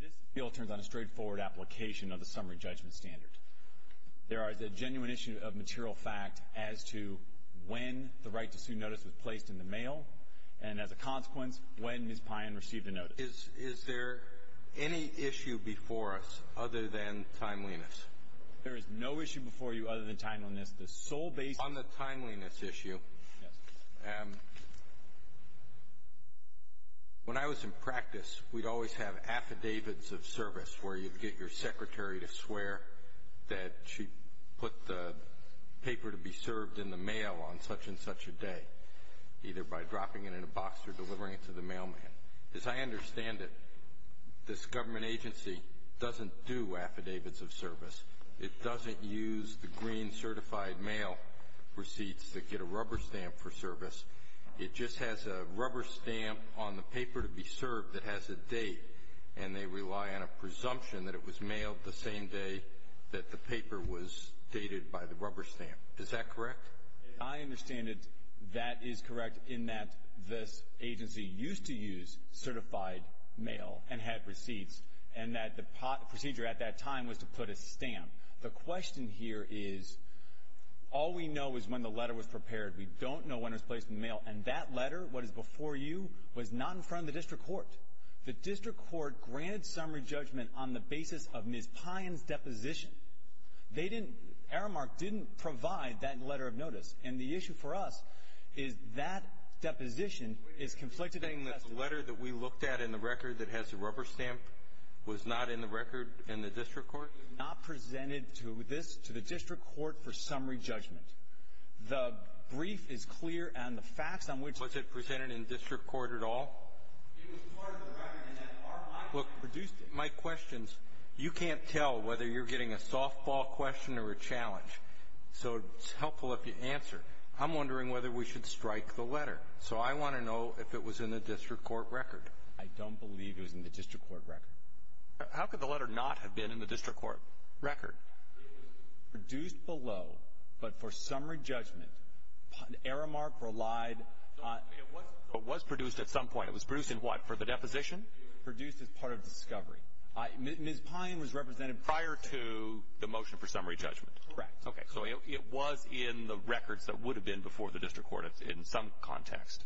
This appeal turns on a straightforward application of the Summary Judgment Standard. There is a genuine issue of material fact as to when the right to sue notice was placed in the mail, and as a consequence, when Ms. Payan received a notice. Is there any issue before us other than timeliness? There is no issue before you other than timeliness. The sole basis On the timeliness issue, when I was in practice, we'd always have affidavits of service where you'd get your secretary to swear that she put the paper to be served in the mail on such and such a day, either by dropping it in a box or delivering it to the mailman. As I understand it, this government agency doesn't do affidavits of service. It doesn't use the green certified mail receipts that get a rubber stamp for service. It just has a rubber stamp on the paper to be served that has a date, and they rely on a presumption that it was mailed the same day that the paper was dated by the rubber stamp. Is that correct? I understand that that is correct in that this agency used to use certified mail and had receipts, and that the procedure at that time was to put a stamp. The question here is, all we know is when the letter was prepared. We don't know when it was placed in the mail, and that letter, what is before you, was not in front of the district court. The district court granted summary judgment on the basis of Ms. Payan's deposition. They didn't, Aramark didn't provide that letter of notice, and the issue for us is that deposition is conflicted. Are you saying that the letter that we looked at in the record that has the rubber stamp was not in the record in the district court? It was not presented to this, to the district court for summary judgment. The brief is clear on the facts on which... Was it presented in district court at all? It was part of the record, and then Aramark produced it. My question is, you can't tell whether you're getting a softball question or a challenge, so it's helpful if you answer. I'm wondering whether we should strike the letter. So I want to know if it was in the district court record. I don't believe it was in the district court record. How could the letter not have been in the district court record? It was produced below, but for summary judgment. Aramark relied on... It was produced at some point. It was produced in what, for the deposition? Produced as part of discovery. Ms. Pine was represented prior to the motion for summary judgment. Correct. Okay. So it was in the records that would have been before the district court in some context.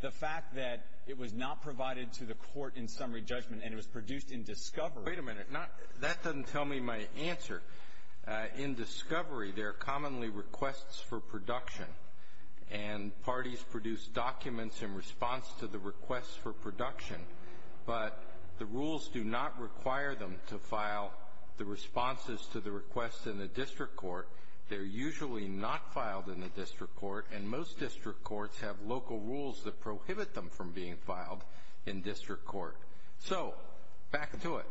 The fact that it was not provided to the court in summary judgment and it was produced in discovery... Wait a minute. That doesn't tell me my answer. In discovery, there are commonly requests for production, and parties produce documents in response to the requests for production, but the rules do not require them to file the responses to the requests in the district court. They're usually not filed in the district court, and most district courts have local rules that prohibit them from being filed in district court. So back to it.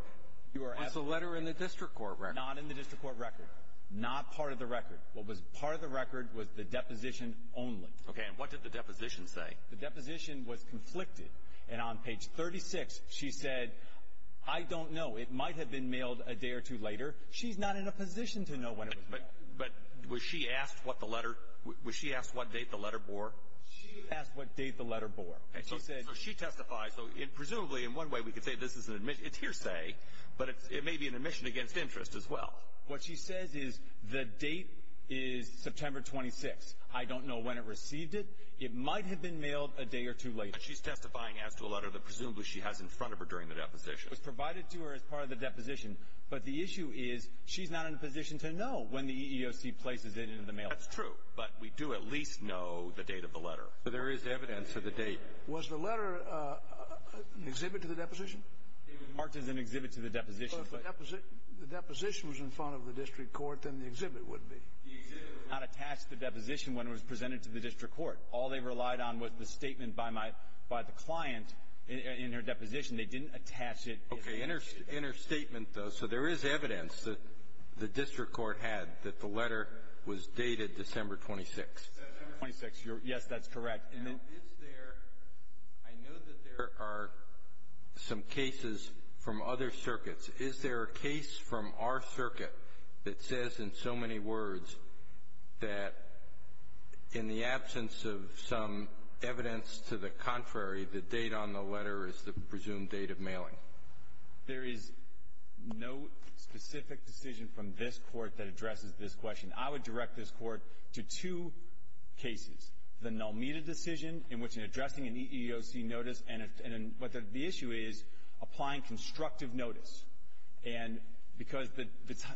Was the letter in the district court record? Not in the district court record. Not part of the record. What was part of the record was the deposition only. Okay, and what did the deposition say? The deposition was conflicted, and on page 36, she said, I don't know. It might have been mailed a day or two later. She's not in a position to know when it was mailed. But was she asked what the letter... Was she asked what date the letter bore? She asked what date the letter bore. Okay, so she testified. So presumably, in one way, we could say this is an admission... It's hearsay, but it may be an admission against interest as well. What she says is the date is September 26th. I don't know when it received it. It might have been mailed a day or two later. But she's testifying as to a letter that presumably she has in front of her during the deposition. It was provided to her as part of the deposition, but the issue is she's not in a position to know when the EEOC places it into the mail. That's true, but we do at least know the date of the letter. So there is evidence of the date. Was the letter an exhibit to the deposition? It was marked as an exhibit to the deposition. So if the deposition was in front of the district court, then the exhibit would be. The exhibit was not attached to the deposition when it was presented to the district court. All they relied on was the statement by the client in her deposition. They didn't attach it. Okay, in her statement, though, so there is evidence that the district court had that the letter was dated December 26th. December 26th, yes, that's correct. And is there – I know that there are some cases from other circuits. Is there a case from our circuit that says in so many words that in the absence of some evidence to the contrary, the date on the letter is the presumed date of mailing? There is no specific decision from this court that addresses this question. I would direct this court to two cases. The Nelmeda decision, in which in addressing an EEOC notice, and what the issue is, applying constructive notice. And because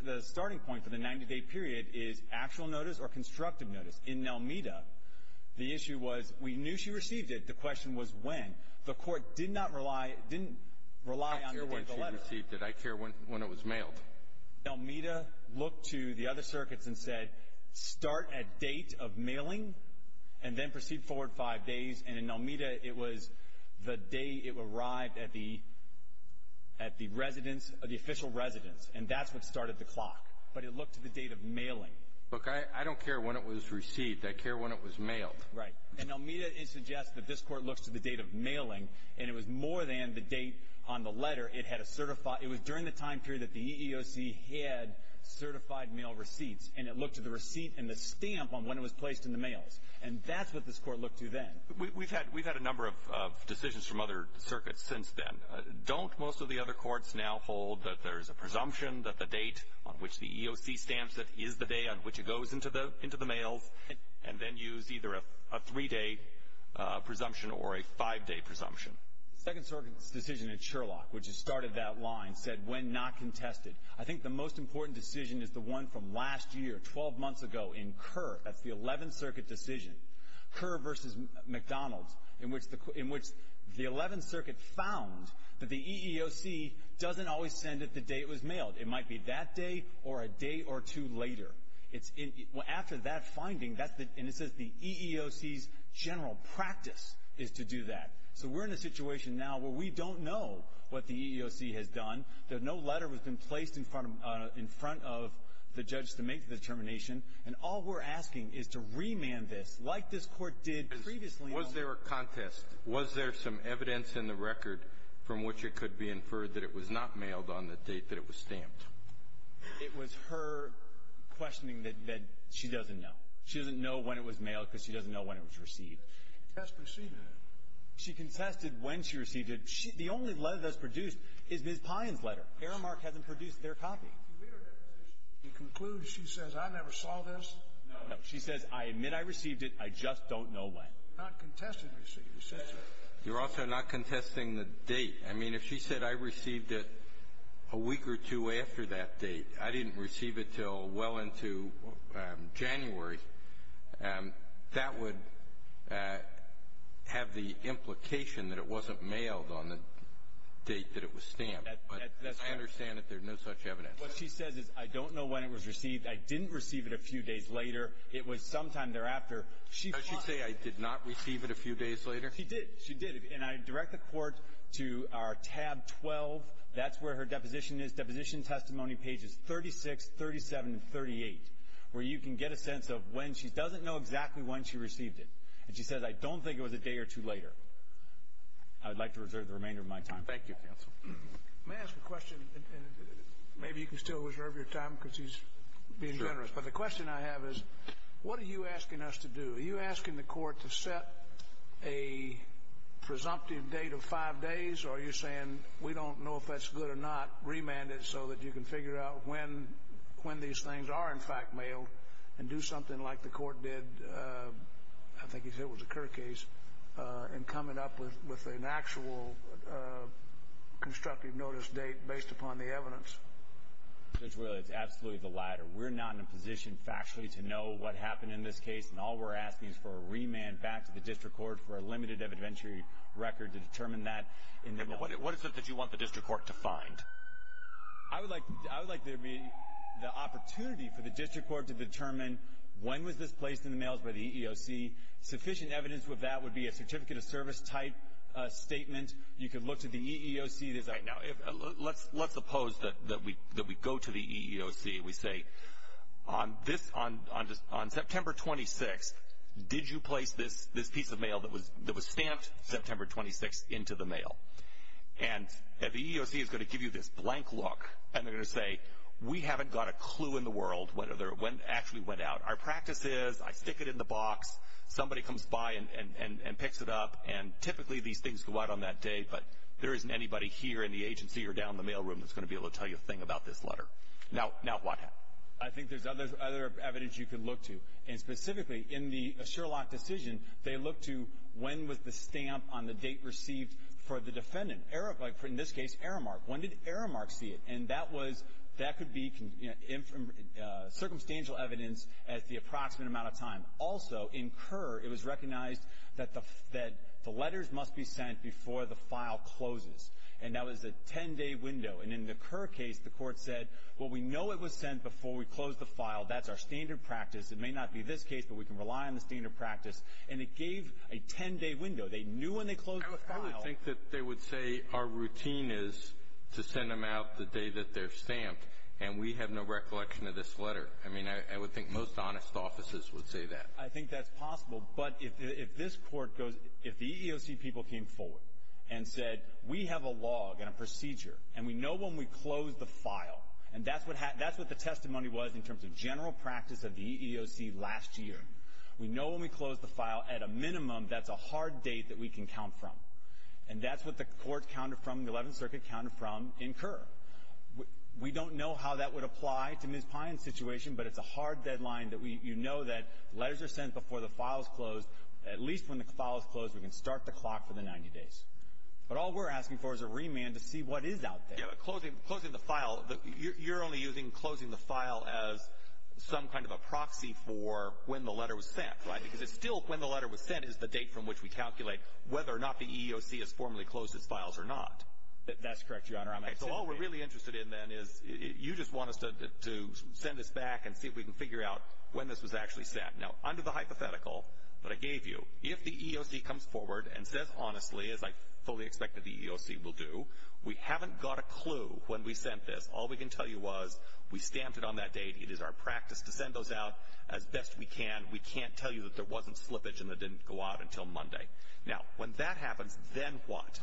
the starting point for the 90-day period is actual notice or constructive notice. In Nelmeda, the issue was we knew she received it. The question was when. The court did not rely – didn't rely on the word of the letter. I care when she received it. I care when it was mailed. But Nelmeda looked to the other circuits and said, start at date of mailing, and then proceed forward five days. And in Nelmeda, it was the day it arrived at the – at the residence – the official residence, and that's what started the clock. But it looked to the date of mailing. Look, I don't care when it was received. I care when it was mailed. Right. In Nelmeda, it suggests that this court looks to the date of mailing, and it was more than the date on the letter. It had a certified – it was during the time period that the EEOC had certified mail receipts, and it looked to the receipt and the stamp on when it was placed in the mails. And that's what this court looked to then. We've had – we've had a number of decisions from other circuits since then. Don't most of the other courts now hold that there's a presumption that the date on which the EEOC stamps it is the day on which it goes into the – into the mails, and then use either a three-day presumption or a five-day presumption? The second circuit's decision in Sherlock, which has started that line, said when not contested. I think the most important decision is the one from last year, 12 months ago, in Kerr. That's the 11th Circuit decision, Kerr versus McDonald's, in which the – in which the 11th Circuit found that the EEOC doesn't always send it the day it was mailed. It might be that day or a day or two later. It's – after that finding, that's the – and it says the EEOC's general practice is to do that. So we're in a situation now where we don't know what the EEOC has done. There's no letter that's been placed in front of – in front of the judge to make the determination. And all we're asking is to remand this like this court did previously on – Was there a contest? Was there some evidence in the record from which it could be inferred that it was not mailed on the date that it was stamped? It was her questioning that she doesn't know. She doesn't know when it was mailed because she doesn't know when it was received. Test received it. She contested when she received it. She – the only letter that's produced is Ms. Pines' letter. Aramark hasn't produced their copy. If you read her deposition, you conclude she says, I never saw this. No. She says, I admit I received it. I just don't know when. Not contested receipt. You're also not contesting the date. I mean, if she said, I received it a week or two after that date, I didn't receive it until well into January, that would have the implication that it wasn't mailed on the date that it was stamped. But I understand that there's no such evidence. What she says is, I don't know when it was received. I didn't receive it a few days later. It was sometime thereafter. She – Does she say I did not receive it a few days later? She did. She did. And I direct the Court to our tab 12. That's where her deposition is, Deposition Testimony pages 36, 37, and 38, where you can get a sense of when she doesn't know exactly when she received it. And she says, I don't think it was a day or two later. I would like to reserve the remainder of my time. Thank you, counsel. May I ask a question? Maybe you can still reserve your time because he's being generous. But the question I have is, what are you asking us to do? Are you asking the Court to set a presumptive date of five days? Or are you saying, we don't know if that's good or not. Remand it so that you can figure out when these things are in fact mailed and do something like the Court did – I think he said it was a Kirk case – in coming up with an actual constructive notice date based upon the evidence? Judge Wheeler, it's absolutely the latter. We're not in a position factually to know what happened in this case. And all we're asking is for a remand back to the District Court for a limited evidentiary record to determine that. And what is it that you want the District Court to find? I would like there to be the opportunity for the District Court to determine when was this placed in the mails by the EEOC. Sufficient evidence of that would be a Certificate of Service type statement. You could look to the EEOC. Now, let's suppose that we go to the EEOC. We say, on September 26th, did you place this piece of mail that was stamped September 26th into the mail? And the EEOC is going to give you this blank look, and they're going to say, we haven't got a clue in the world when it actually went out. Our practice is, I stick it in the box, somebody comes by and picks it up, and typically these things go out on that day, but there isn't anybody here in the agency or down in the mail room that's going to be able to tell you a thing about this letter. Now, what happened? I think there's other evidence you could look to. And specifically, in the Sherlock decision, they looked to when was the stamp on the date received for the defendant, in this case, error mark. When did error mark see it? And that could be circumstantial evidence as the approximate amount of time. Also, in Kerr, it was recognized that the letters must be sent before the file closes. And that was a 10-day window. And in the Kerr case, the court said, well, we know it was sent before we closed the file. That's our standard practice. It may not be this case, but we can rely on the standard practice. And it gave a 10-day window. They knew when they closed the file. I would think that they would say, our routine is to send them out the day that they're stamped, and we have no recollection of this letter. I mean, I would think most honest offices would say that. I think that's possible. But if this court goes, if the EEOC people came forward and said, we have a log and a procedure, and we know when we closed the file, and that's what the testimony was in terms of general practice of the EEOC last year, we know when we closed the file, at a minimum, that's a hard date that we can count from. And that's what the court counted from, the 11th Circuit counted from in Kerr. We don't know how that would apply to Ms. Pine's situation, but it's a hard deadline that we, you know that letters are sent before the file is closed. At least when the file is closed, we can start the clock for the 90 days. But all we're asking for is a remand to see what is out there. Closing the file, you're only using closing the file as some kind of a proxy for when the letter was sent, right? Because it's still when the letter was sent is the date from which we calculate whether or not the EEOC has formally closed its files or not. That's correct, Your Honor. I'm accepting. So all we're really interested in then is, you just want us to send this back and see if we can figure out when this was actually sent. Now, under the hypothetical that I gave you, if the EEOC comes forward and says honestly, as I fully expect that the EEOC will do, we haven't got a clue when we sent this. All we can tell you was we stamped it on that date. It is our practice to send those out as best we can. We can't tell you that there wasn't slippage and it didn't go out until Monday. Now, when that happens, then what?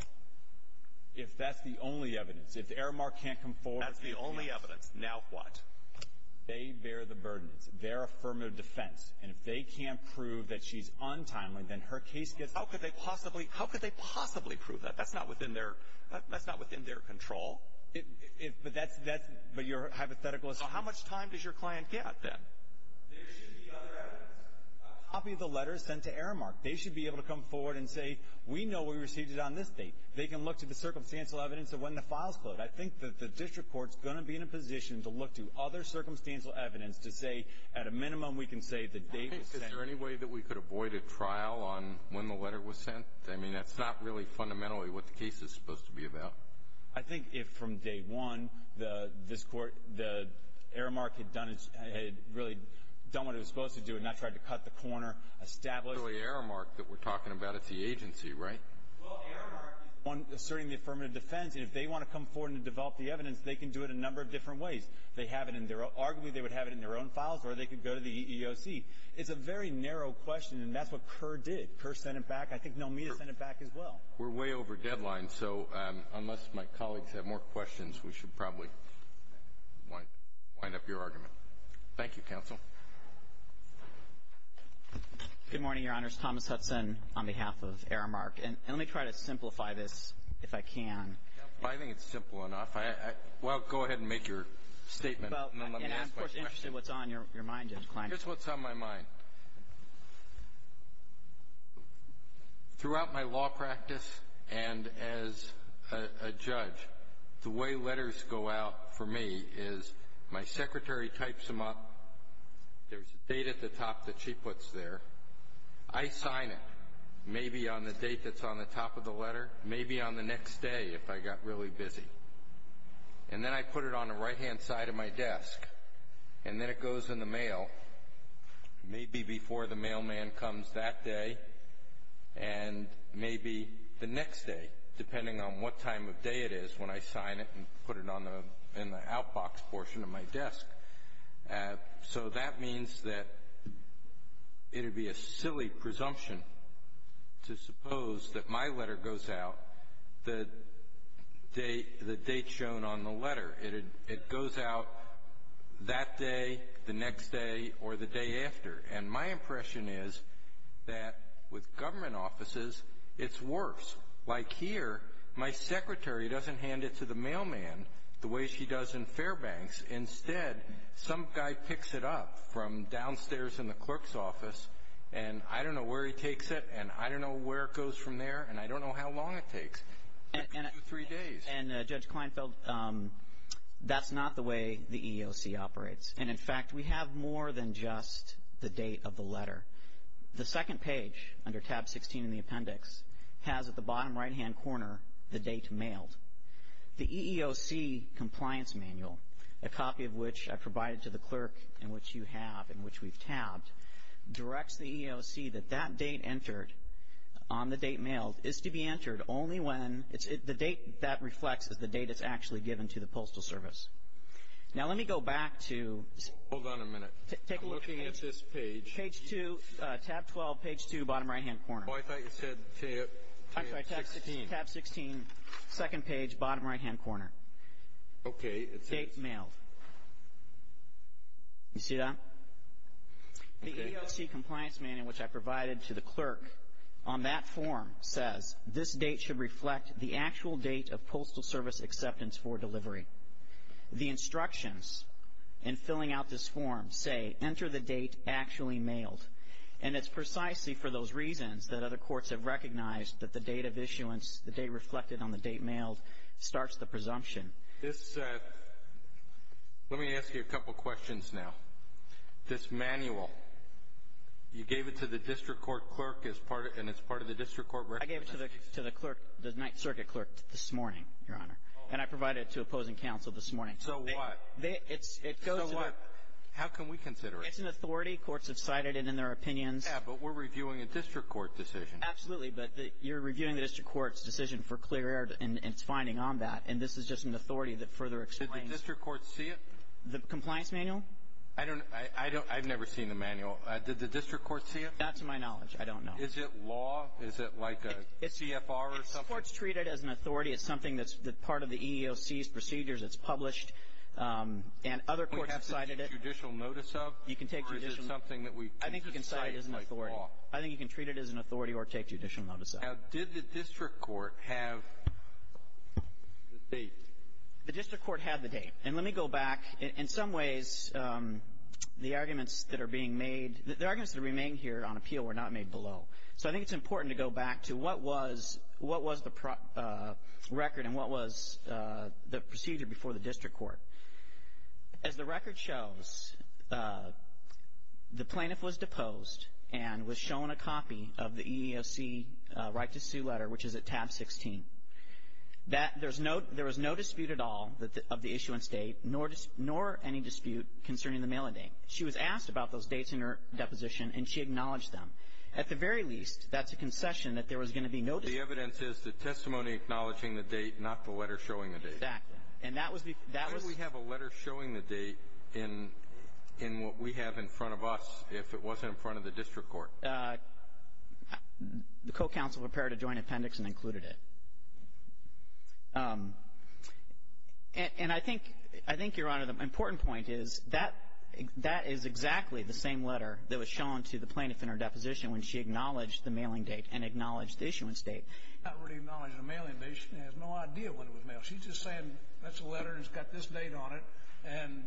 If that's the only evidence, if the error mark can't come forward. That's the only evidence. Now what? They bear the burdens. They're a firm of defense. And if they can't prove that she's untimely, then her case gets. How could they possibly prove that? That's not within their control. But your hypothetical is how much time does your client get then? There should be other evidence. A copy of the letter sent to error mark. They should be able to come forward and say, we know we received it on this date. They can look to the circumstantial evidence of when the files flowed. I think that the district court's going to be in a position to look to other circumstantial evidence to say, at a minimum, we can say the date was sent. Is there any way that we could avoid a trial on when the letter was sent? I mean, that's not really fundamentally what the case is supposed to be about. I think if from day one, the error mark had really done what it was supposed to do and not tried to cut the corner, establish. The error mark that we're talking about, it's the agency, right? Well, error mark is the one asserting the affirmative defense. And if they want to come forward and develop the evidence, they can do it a number of different ways. Arguably, they would have it in their own files or they could go to the EEOC. It's a very narrow question, and that's what Kerr did. Kerr sent it back. I think Nomita sent it back as well. We're way over deadline, so unless my colleagues have more questions, we should probably wind up your argument. Thank you, counsel. Good morning, Your Honors. Thomas Hudson on behalf of Error Mark. And let me try to simplify this, if I can. I think it's simple enough. Well, go ahead and make your statement, and then let me ask my question. And I'm, of course, interested what's on your mind, Judge Kleinberg. Here's what's on my mind. Throughout my law practice and as a judge, the way letters go out for me is my secretary types them up, there's a date at the top that she puts there. I sign it, maybe on the date that's on the top of the letter, maybe on the next day if I got really busy. And then I put it on the right-hand side of my desk, and then it goes in the mail, maybe before the mailman comes that day. And maybe the next day, depending on what time of day it is, when I sign it and put it in the outbox portion of my desk. So that means that it'd be a silly presumption to suppose that my letter goes out the date shown on the letter. It goes out that day, the next day, or the day after. And my impression is that with government offices, it's worse. Like here, my secretary doesn't hand it to the mailman the way she does in Fairbanks. Instead, some guy picks it up from downstairs in the clerk's office, and I don't know where he takes it, and I don't know where it goes from there, and I don't know how long it takes. It could be two or three days. And Judge Kleinfeld, that's not the way the EEOC operates. And in fact, we have more than just the date of the letter. The second page, under tab 16 in the appendix, has at the bottom right-hand corner the date mailed. The EEOC compliance manual, a copy of which I provided to the clerk, in which you have, in which we've tabbed, directs the EEOC that that date entered on the date mailed is to be entered only when the date that reflects is the date it's actually given to the Postal Service. Now, let me go back to- Hold on a minute. I'm looking at this page. Page two, tab 12, page two, bottom right-hand corner. Oh, I thought you said tab 16. I'm sorry, tab 16, second page, bottom right-hand corner. Okay, it says- Date mailed. You see that? The EEOC compliance manual, which I provided to the clerk on that form, says this date should reflect the actual date of Postal Service acceptance for delivery. The instructions in filling out this form say, enter the date actually mailed. And it's precisely for those reasons that other courts have recognized that the date of issuance, the date reflected on the date mailed, starts the presumption. This- Let me ask you a couple questions now. This manual, you gave it to the district court clerk as part of- I gave it to the clerk, the Ninth Circuit clerk, this morning, Your Honor. And I provided it to opposing counsel this morning. So what? It goes to the- So what? How can we consider it? It's an authority. Courts have cited it in their opinions. Yeah, but we're reviewing a district court decision. Absolutely, but you're reviewing the district court's decision for clear error in its finding on that, and this is just an authority that further explains- Did the district court see it? The compliance manual? I don't, I don't, I've never seen the manual. Did the district court see it? Not to my knowledge. I don't know. Is it law? Is it like a CFR or something? The court's treated it as an authority. It's something that's part of the EEOC's procedures. It's published, and other courts have cited it. Can we take judicial notice of it? You can take judicial- Or is it something that we can cite like law? I think you can cite it as an authority. I think you can treat it as an authority or take judicial notice of it. Now, did the district court have the date? The district court had the date. And let me go back. In some ways, the arguments that are being made, the arguments that remain here on appeal were not made below. So, I think it's important to go back to what was, what was the record and what was the procedure before the district court. As the record shows, the plaintiff was deposed and was shown a copy of the EEOC right to sue letter, which is at tab 16. That there's no, there was no dispute at all of the issuance date, nor any dispute concerning the mailing date. She was asked about those dates in her deposition, and she acknowledged them. At the very least, that's a concession that there was going to be no dispute. The evidence is the testimony acknowledging the date, not the letter showing the date. Exactly. And that was the, that was- Why did we have a letter showing the date in, in what we have in front of us if it wasn't in front of the district court? The co-counsel prepared a joint appendix and included it. And I think, I think, Your Honor, the important point is that, that is exactly the same letter that was shown to the plaintiff in her deposition when she acknowledged the mailing date and acknowledged the issuance date. She's not really acknowledging the mailing date. She has no idea when it was mailed. She's just saying, that's a letter and it's got this date on it, and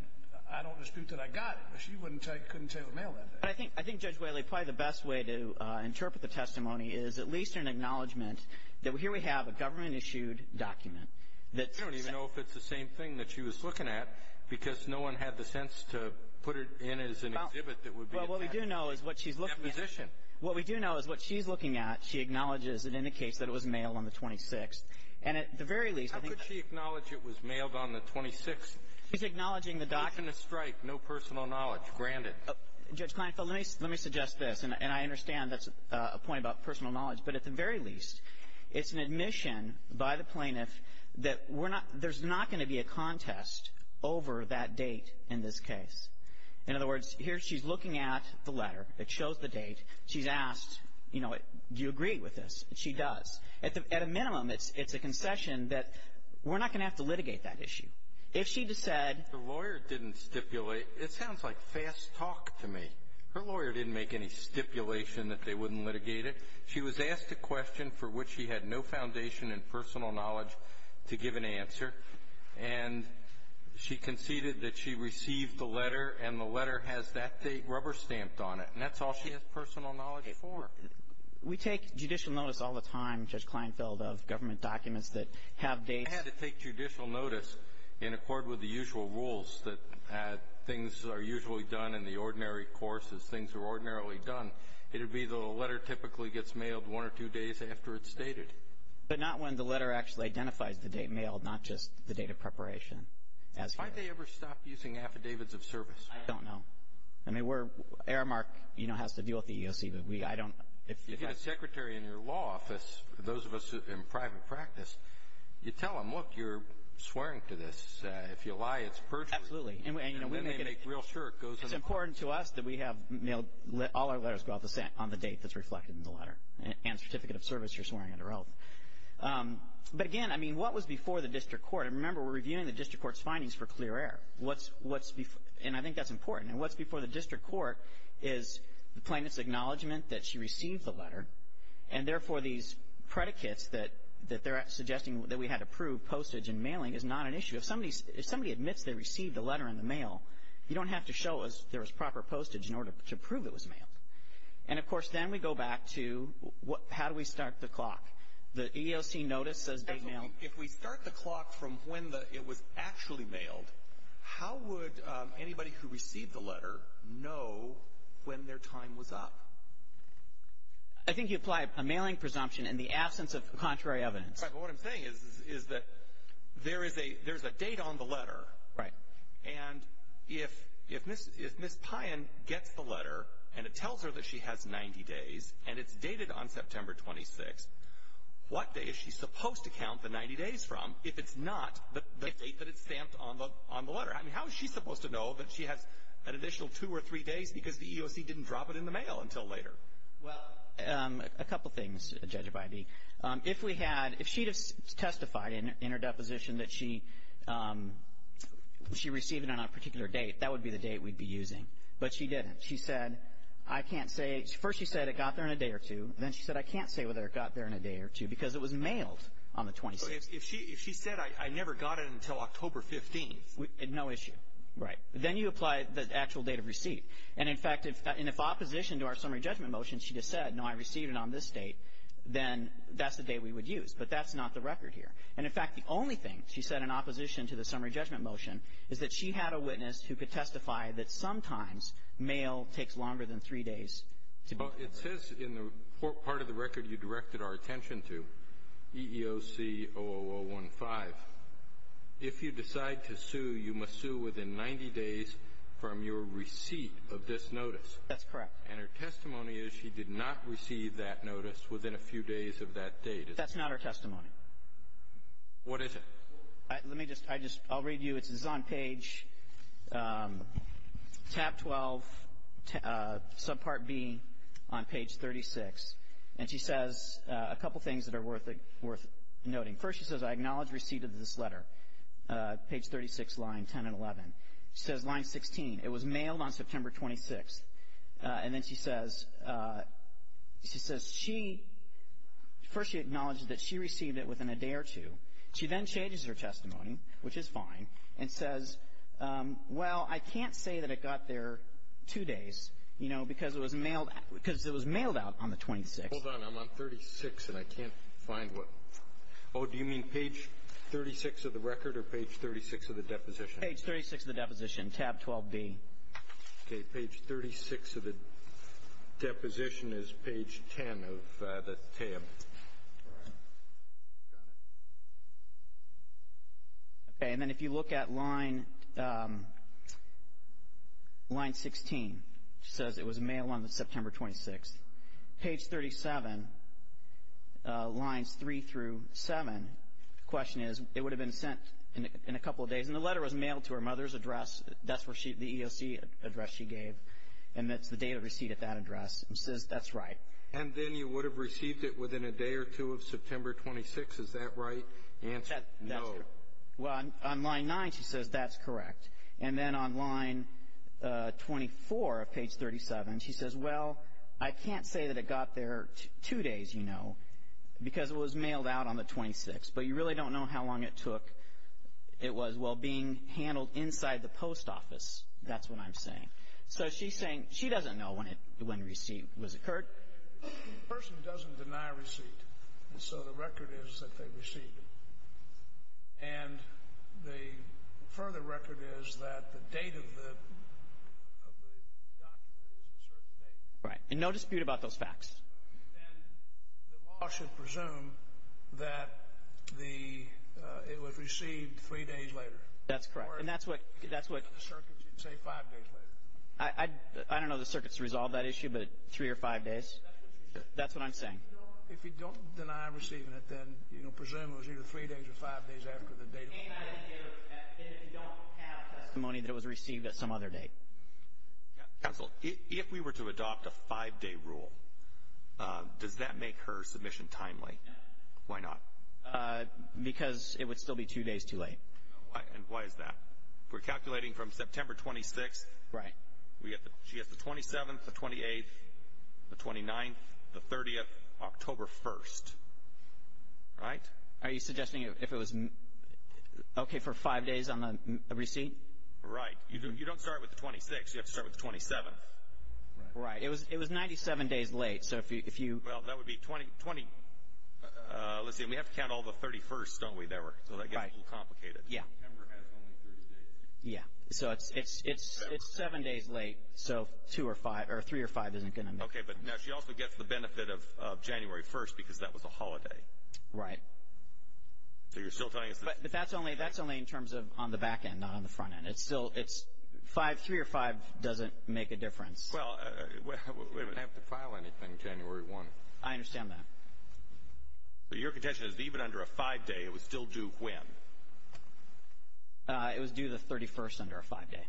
I don't dispute that I got it. But she wouldn't tell you, couldn't tell you it was mailed that day. But I think, I think, Judge Whaley, probably the best way to interpret the testimony is at least an acknowledgement that here we have a government-issued document that- I don't even know if it's the same thing that she was looking at, because no one had the sense to put it in as an exhibit that would be- Well, what we do know is what she's looking at- Deposition. What we do know is what she's looking at, she acknowledges and indicates that it was mailed on the 26th. And at the very least- How could she acknowledge it was mailed on the 26th? She's acknowledging the document- Openness strike, no personal knowledge, granted. Judge Kleinfeld, let me suggest this, and I understand that's a point about personal knowledge, but at the very least, it's an admission by the plaintiff that we're not – there's not going to be a contest over that date in this case. In other words, here she's looking at the letter, it shows the date, she's asked, you know, do you agree with this? She does. At a minimum, it's a concession that we're not going to have to litigate that issue. If she just said- The lawyer didn't stipulate- it sounds like fast talk to me. Her lawyer didn't make any stipulation that they wouldn't litigate it. She was asked a question for which she had no foundation in personal knowledge to give an answer, and she conceded that she received the letter, and the letter has that date rubber stamped on it. And that's all she has personal knowledge for. We take judicial notice all the time, Judge Kleinfeld, of government documents that have dates- I had to take judicial notice in accord with the usual rules that things are usually done in the ordinary course as things are ordinarily done. It would be the letter typically gets mailed one or two days after it's stated. But not when the letter actually identifies the date mailed, not just the date of preparation. Why do they ever stop using affidavits of service? I don't know. I mean, we're- Aramark, you know, has to deal with the EEOC, but we- I don't- If you get a secretary in your law office, those of us in private practice, you tell them, look, you're swearing to this. If you lie, it's personal. Absolutely. And then they make real sure it goes- It's important to us that we have all our letters go out on the date that's reflected in the letter and certificate of service you're swearing under oath. But again, I mean, what was before the district court? And remember, we're reviewing the district court's findings for clear air. What's before- And I think that's important. And what's before the district court is the plaintiff's acknowledgment that she received the letter, and therefore, these predicates that they're suggesting that we had to prove postage and mailing is not an issue. If somebody admits they received the letter in the mail, you don't have to show us there was proper postage in order to prove it was mailed. And of course, then we go back to how do we start the clock? The EEOC notice says they mailed- If we start the clock from when it was actually mailed, how would anybody who received the letter know when their time was up? I think you apply a mailing presumption in the absence of contrary evidence. Right. But what I'm saying is that there's a date on the letter, and if Ms. Payan gets the letter and it tells her that she has 90 days and it's dated on September 26th, what day is she supposed to count the 90 days from if it's not the date that it's stamped on the letter? I mean, how is she supposed to know that she has an additional two or three days because the EEOC didn't drop it in the mail until later? Well, a couple things, Judge Abiby. If we had- If she had testified in her deposition that she received it on a particular date, that would be the date we'd be using. But she didn't. She said, I can't say- First, she said it got there in a day or two, and then she said, I can't say whether it got there in a day or two because it was mailed on the 26th. If she said, I never got it until October 15th- No issue. Right. Then you apply the actual date of receipt. And in fact, if opposition to our summary judgment motion, she just said, no, I received it on this date, then that's the date we would use. But that's not the record here. And in fact, the only thing she said in opposition to the summary judgment motion is that she had a witness who could testify that sometimes mail takes longer than three days to be delivered. It says in the part of the record you directed our attention to, EEOC 00015, if you decide to sue, you must sue within 90 days from your receipt of this notice. That's correct. And her testimony is she did not receive that notice within a few days of that date. That's not her testimony. What is it? Let me just- I just- I'll read you. It's on page tab 12, subpart B on page 36. And she says a couple things that are worth noting. First, she says, I acknowledge receipt of this letter, page 36, line 10 and 11. She says line 16. It was mailed on September 26th. And then she says, she says she- first she acknowledges that she received it within a day or two. She then changes her testimony, which is fine, and says, well, I can't say that it got there two days, you know, because it was mailed- because it was mailed out on the 26th. Hold on. I'm on 36 and I can't find what- oh, do you mean page 36 of the record or page 36 of the deposition? Page 36 of the deposition, tab 12B. Okay. Page 36 of the deposition is page 10 of the tab. Okay. And then if you look at line 16, she says it was mailed on September 26th. Page 37, lines 3 through 7, the question is, it would have been sent in a couple of days. And the letter was mailed to her mother's address. That's where she- the EOC address she gave. And that's the date of receipt at that address. And she says, that's right. And then you would have received it within a day or two of September 26th. Is that right? The answer is no. Well, on line 9, she says that's correct. And then on line 24 of page 37, she says, well, I can't say that it got there two days, you know, because it was mailed out on the 26th. But you really don't know how long it took. It was, well, being handled inside the post office. That's what I'm saying. So she's saying she doesn't know when it- when receipt was occurred. The person doesn't deny receipt. So the record is that they received it. And the further record is that the date of the document is a certain date. Right. And no dispute about those facts. Then the law should presume that the- it was received three days later. That's correct. And that's what- that's what- The circuit should say five days later. I- I- I don't know the circuit's resolved that issue, but three or five days. That's what I'm saying. If you don't deny receiving it, then, you know, presume it was either three days or five days after the date. And if you don't have testimony that it was received at some other date. Counsel, if we were to adopt a five-day rule, does that make her submission timely? Why not? Because it would still be two days too late. And why is that? We're calculating from September 26th. Right. We get the- she gets the 27th, the 28th, the 29th, the 30th, October 1st. Right? Are you suggesting if it was okay for five days on the receipt? Right. You don't start with the 26th. You have to start with the 27th. Right. It was- it was 97 days late. So if you- if you- Well, that would be 20- 20- let's see. We have to count all the 31sts, don't we, Debra? So that gets a little complicated. Right. Yeah. September has only 30 days. Yeah. So it's- it's- it's seven days late. So two or five- or three or five isn't going to make- Okay. But now she also gets the benefit of January 1st because that was a holiday. Right. So you're still telling us that- But that's only- that's only in terms of on the back end, not on the front end. It's still- it's five- three or five doesn't make a difference. Well, we- She doesn't have to file anything January 1st. I understand that. So your contention is that even under a five-day, it was still due when? Uh, it was due the 31st under a five-day.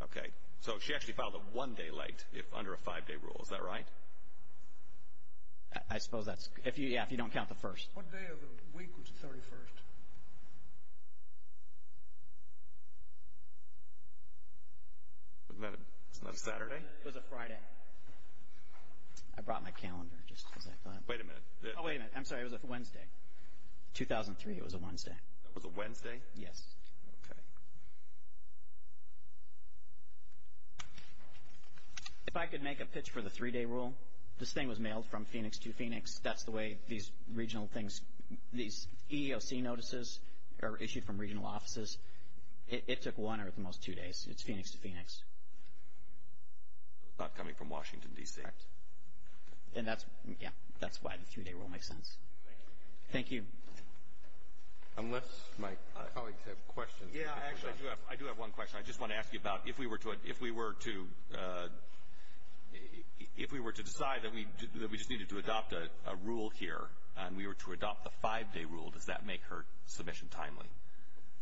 Okay. So she actually filed a one-day late if- under a five-day rule. Is that right? I- I suppose that's- if you- yeah, if you don't count the first. What day of the week was the 31st? Wasn't that a- wasn't that a Saturday? It was a Friday. I brought my calendar just because I thought- Wait a minute. Oh, wait a minute. I'm sorry. It was a Wednesday. 2003, it was a Wednesday. It was a Wednesday? Yes. Okay. If I could make a pitch for the three-day rule, this thing was mailed from Phoenix to Phoenix. That's the way these regional things- these EEOC notices are issued from regional offices. So it's not coming from Washington, D.C. Correct. And that's- yeah, that's why the three-day rule makes sense. Thank you. Unless my colleagues have questions. Yeah, I actually do have- I do have one question. I just want to ask you about if we were to- if we were to- if we were to decide that we- that we just needed to adopt a rule here and we were to adopt the five-day rule, does that make her submission timely?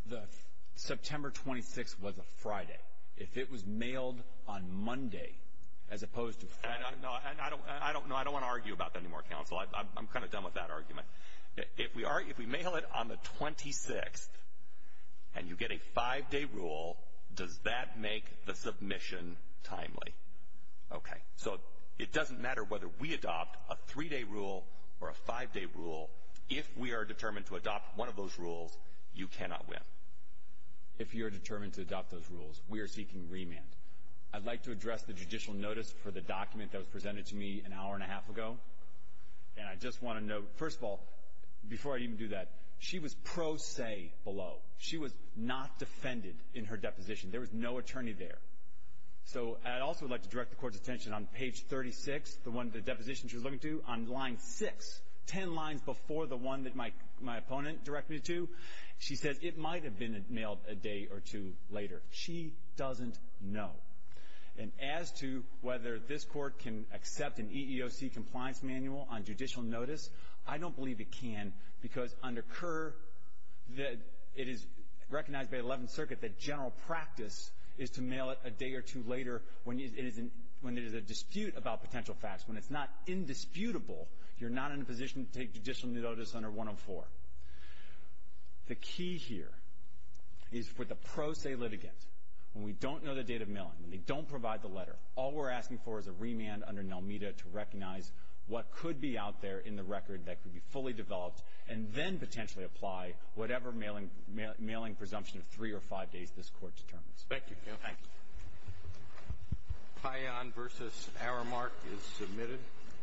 The September 26th was a Friday. If it was mailed on Monday as opposed to Friday- No, I don't want to argue about that anymore, counsel. I'm kind of done with that argument. If we mail it on the 26th and you get a five-day rule, does that make the submission timely? Okay. So it doesn't matter whether we adopt a three-day rule or a five-day rule. If we are determined to adopt one of those rules, you cannot win. If you're determined to adopt those rules, we are seeking remand. I'd like to address the judicial notice for the document that was presented to me an hour and a half ago. And I just want to note, first of all, before I even do that, she was pro se below. She was not defended in her deposition. There was no attorney there. So I'd also like to direct the Court's attention on page 36, the one- the deposition she was looking to, on line 6, ten lines before the one that my opponent directed me to. She says it might have been mailed a day or two later. She doesn't know. And as to whether this Court can accept an EEOC compliance manual on judicial notice, I don't believe it can because under Kerr, it is recognized by the Eleventh Circuit that general practice is to mail it a day or two later when it is a dispute about potential facts. When it's not indisputable, you're not in a position to take judicial notice under 104. The key here is for the pro se litigant, when we don't know the date of mailing, when they don't provide the letter, all we're asking for is a remand under NELMEDA to recognize what could be out there in the record that could be fully developed, and then potentially apply whatever mailing presumption of three or five days this Court determines. Thank you. Thank you. Payan v. Aramark is submitted.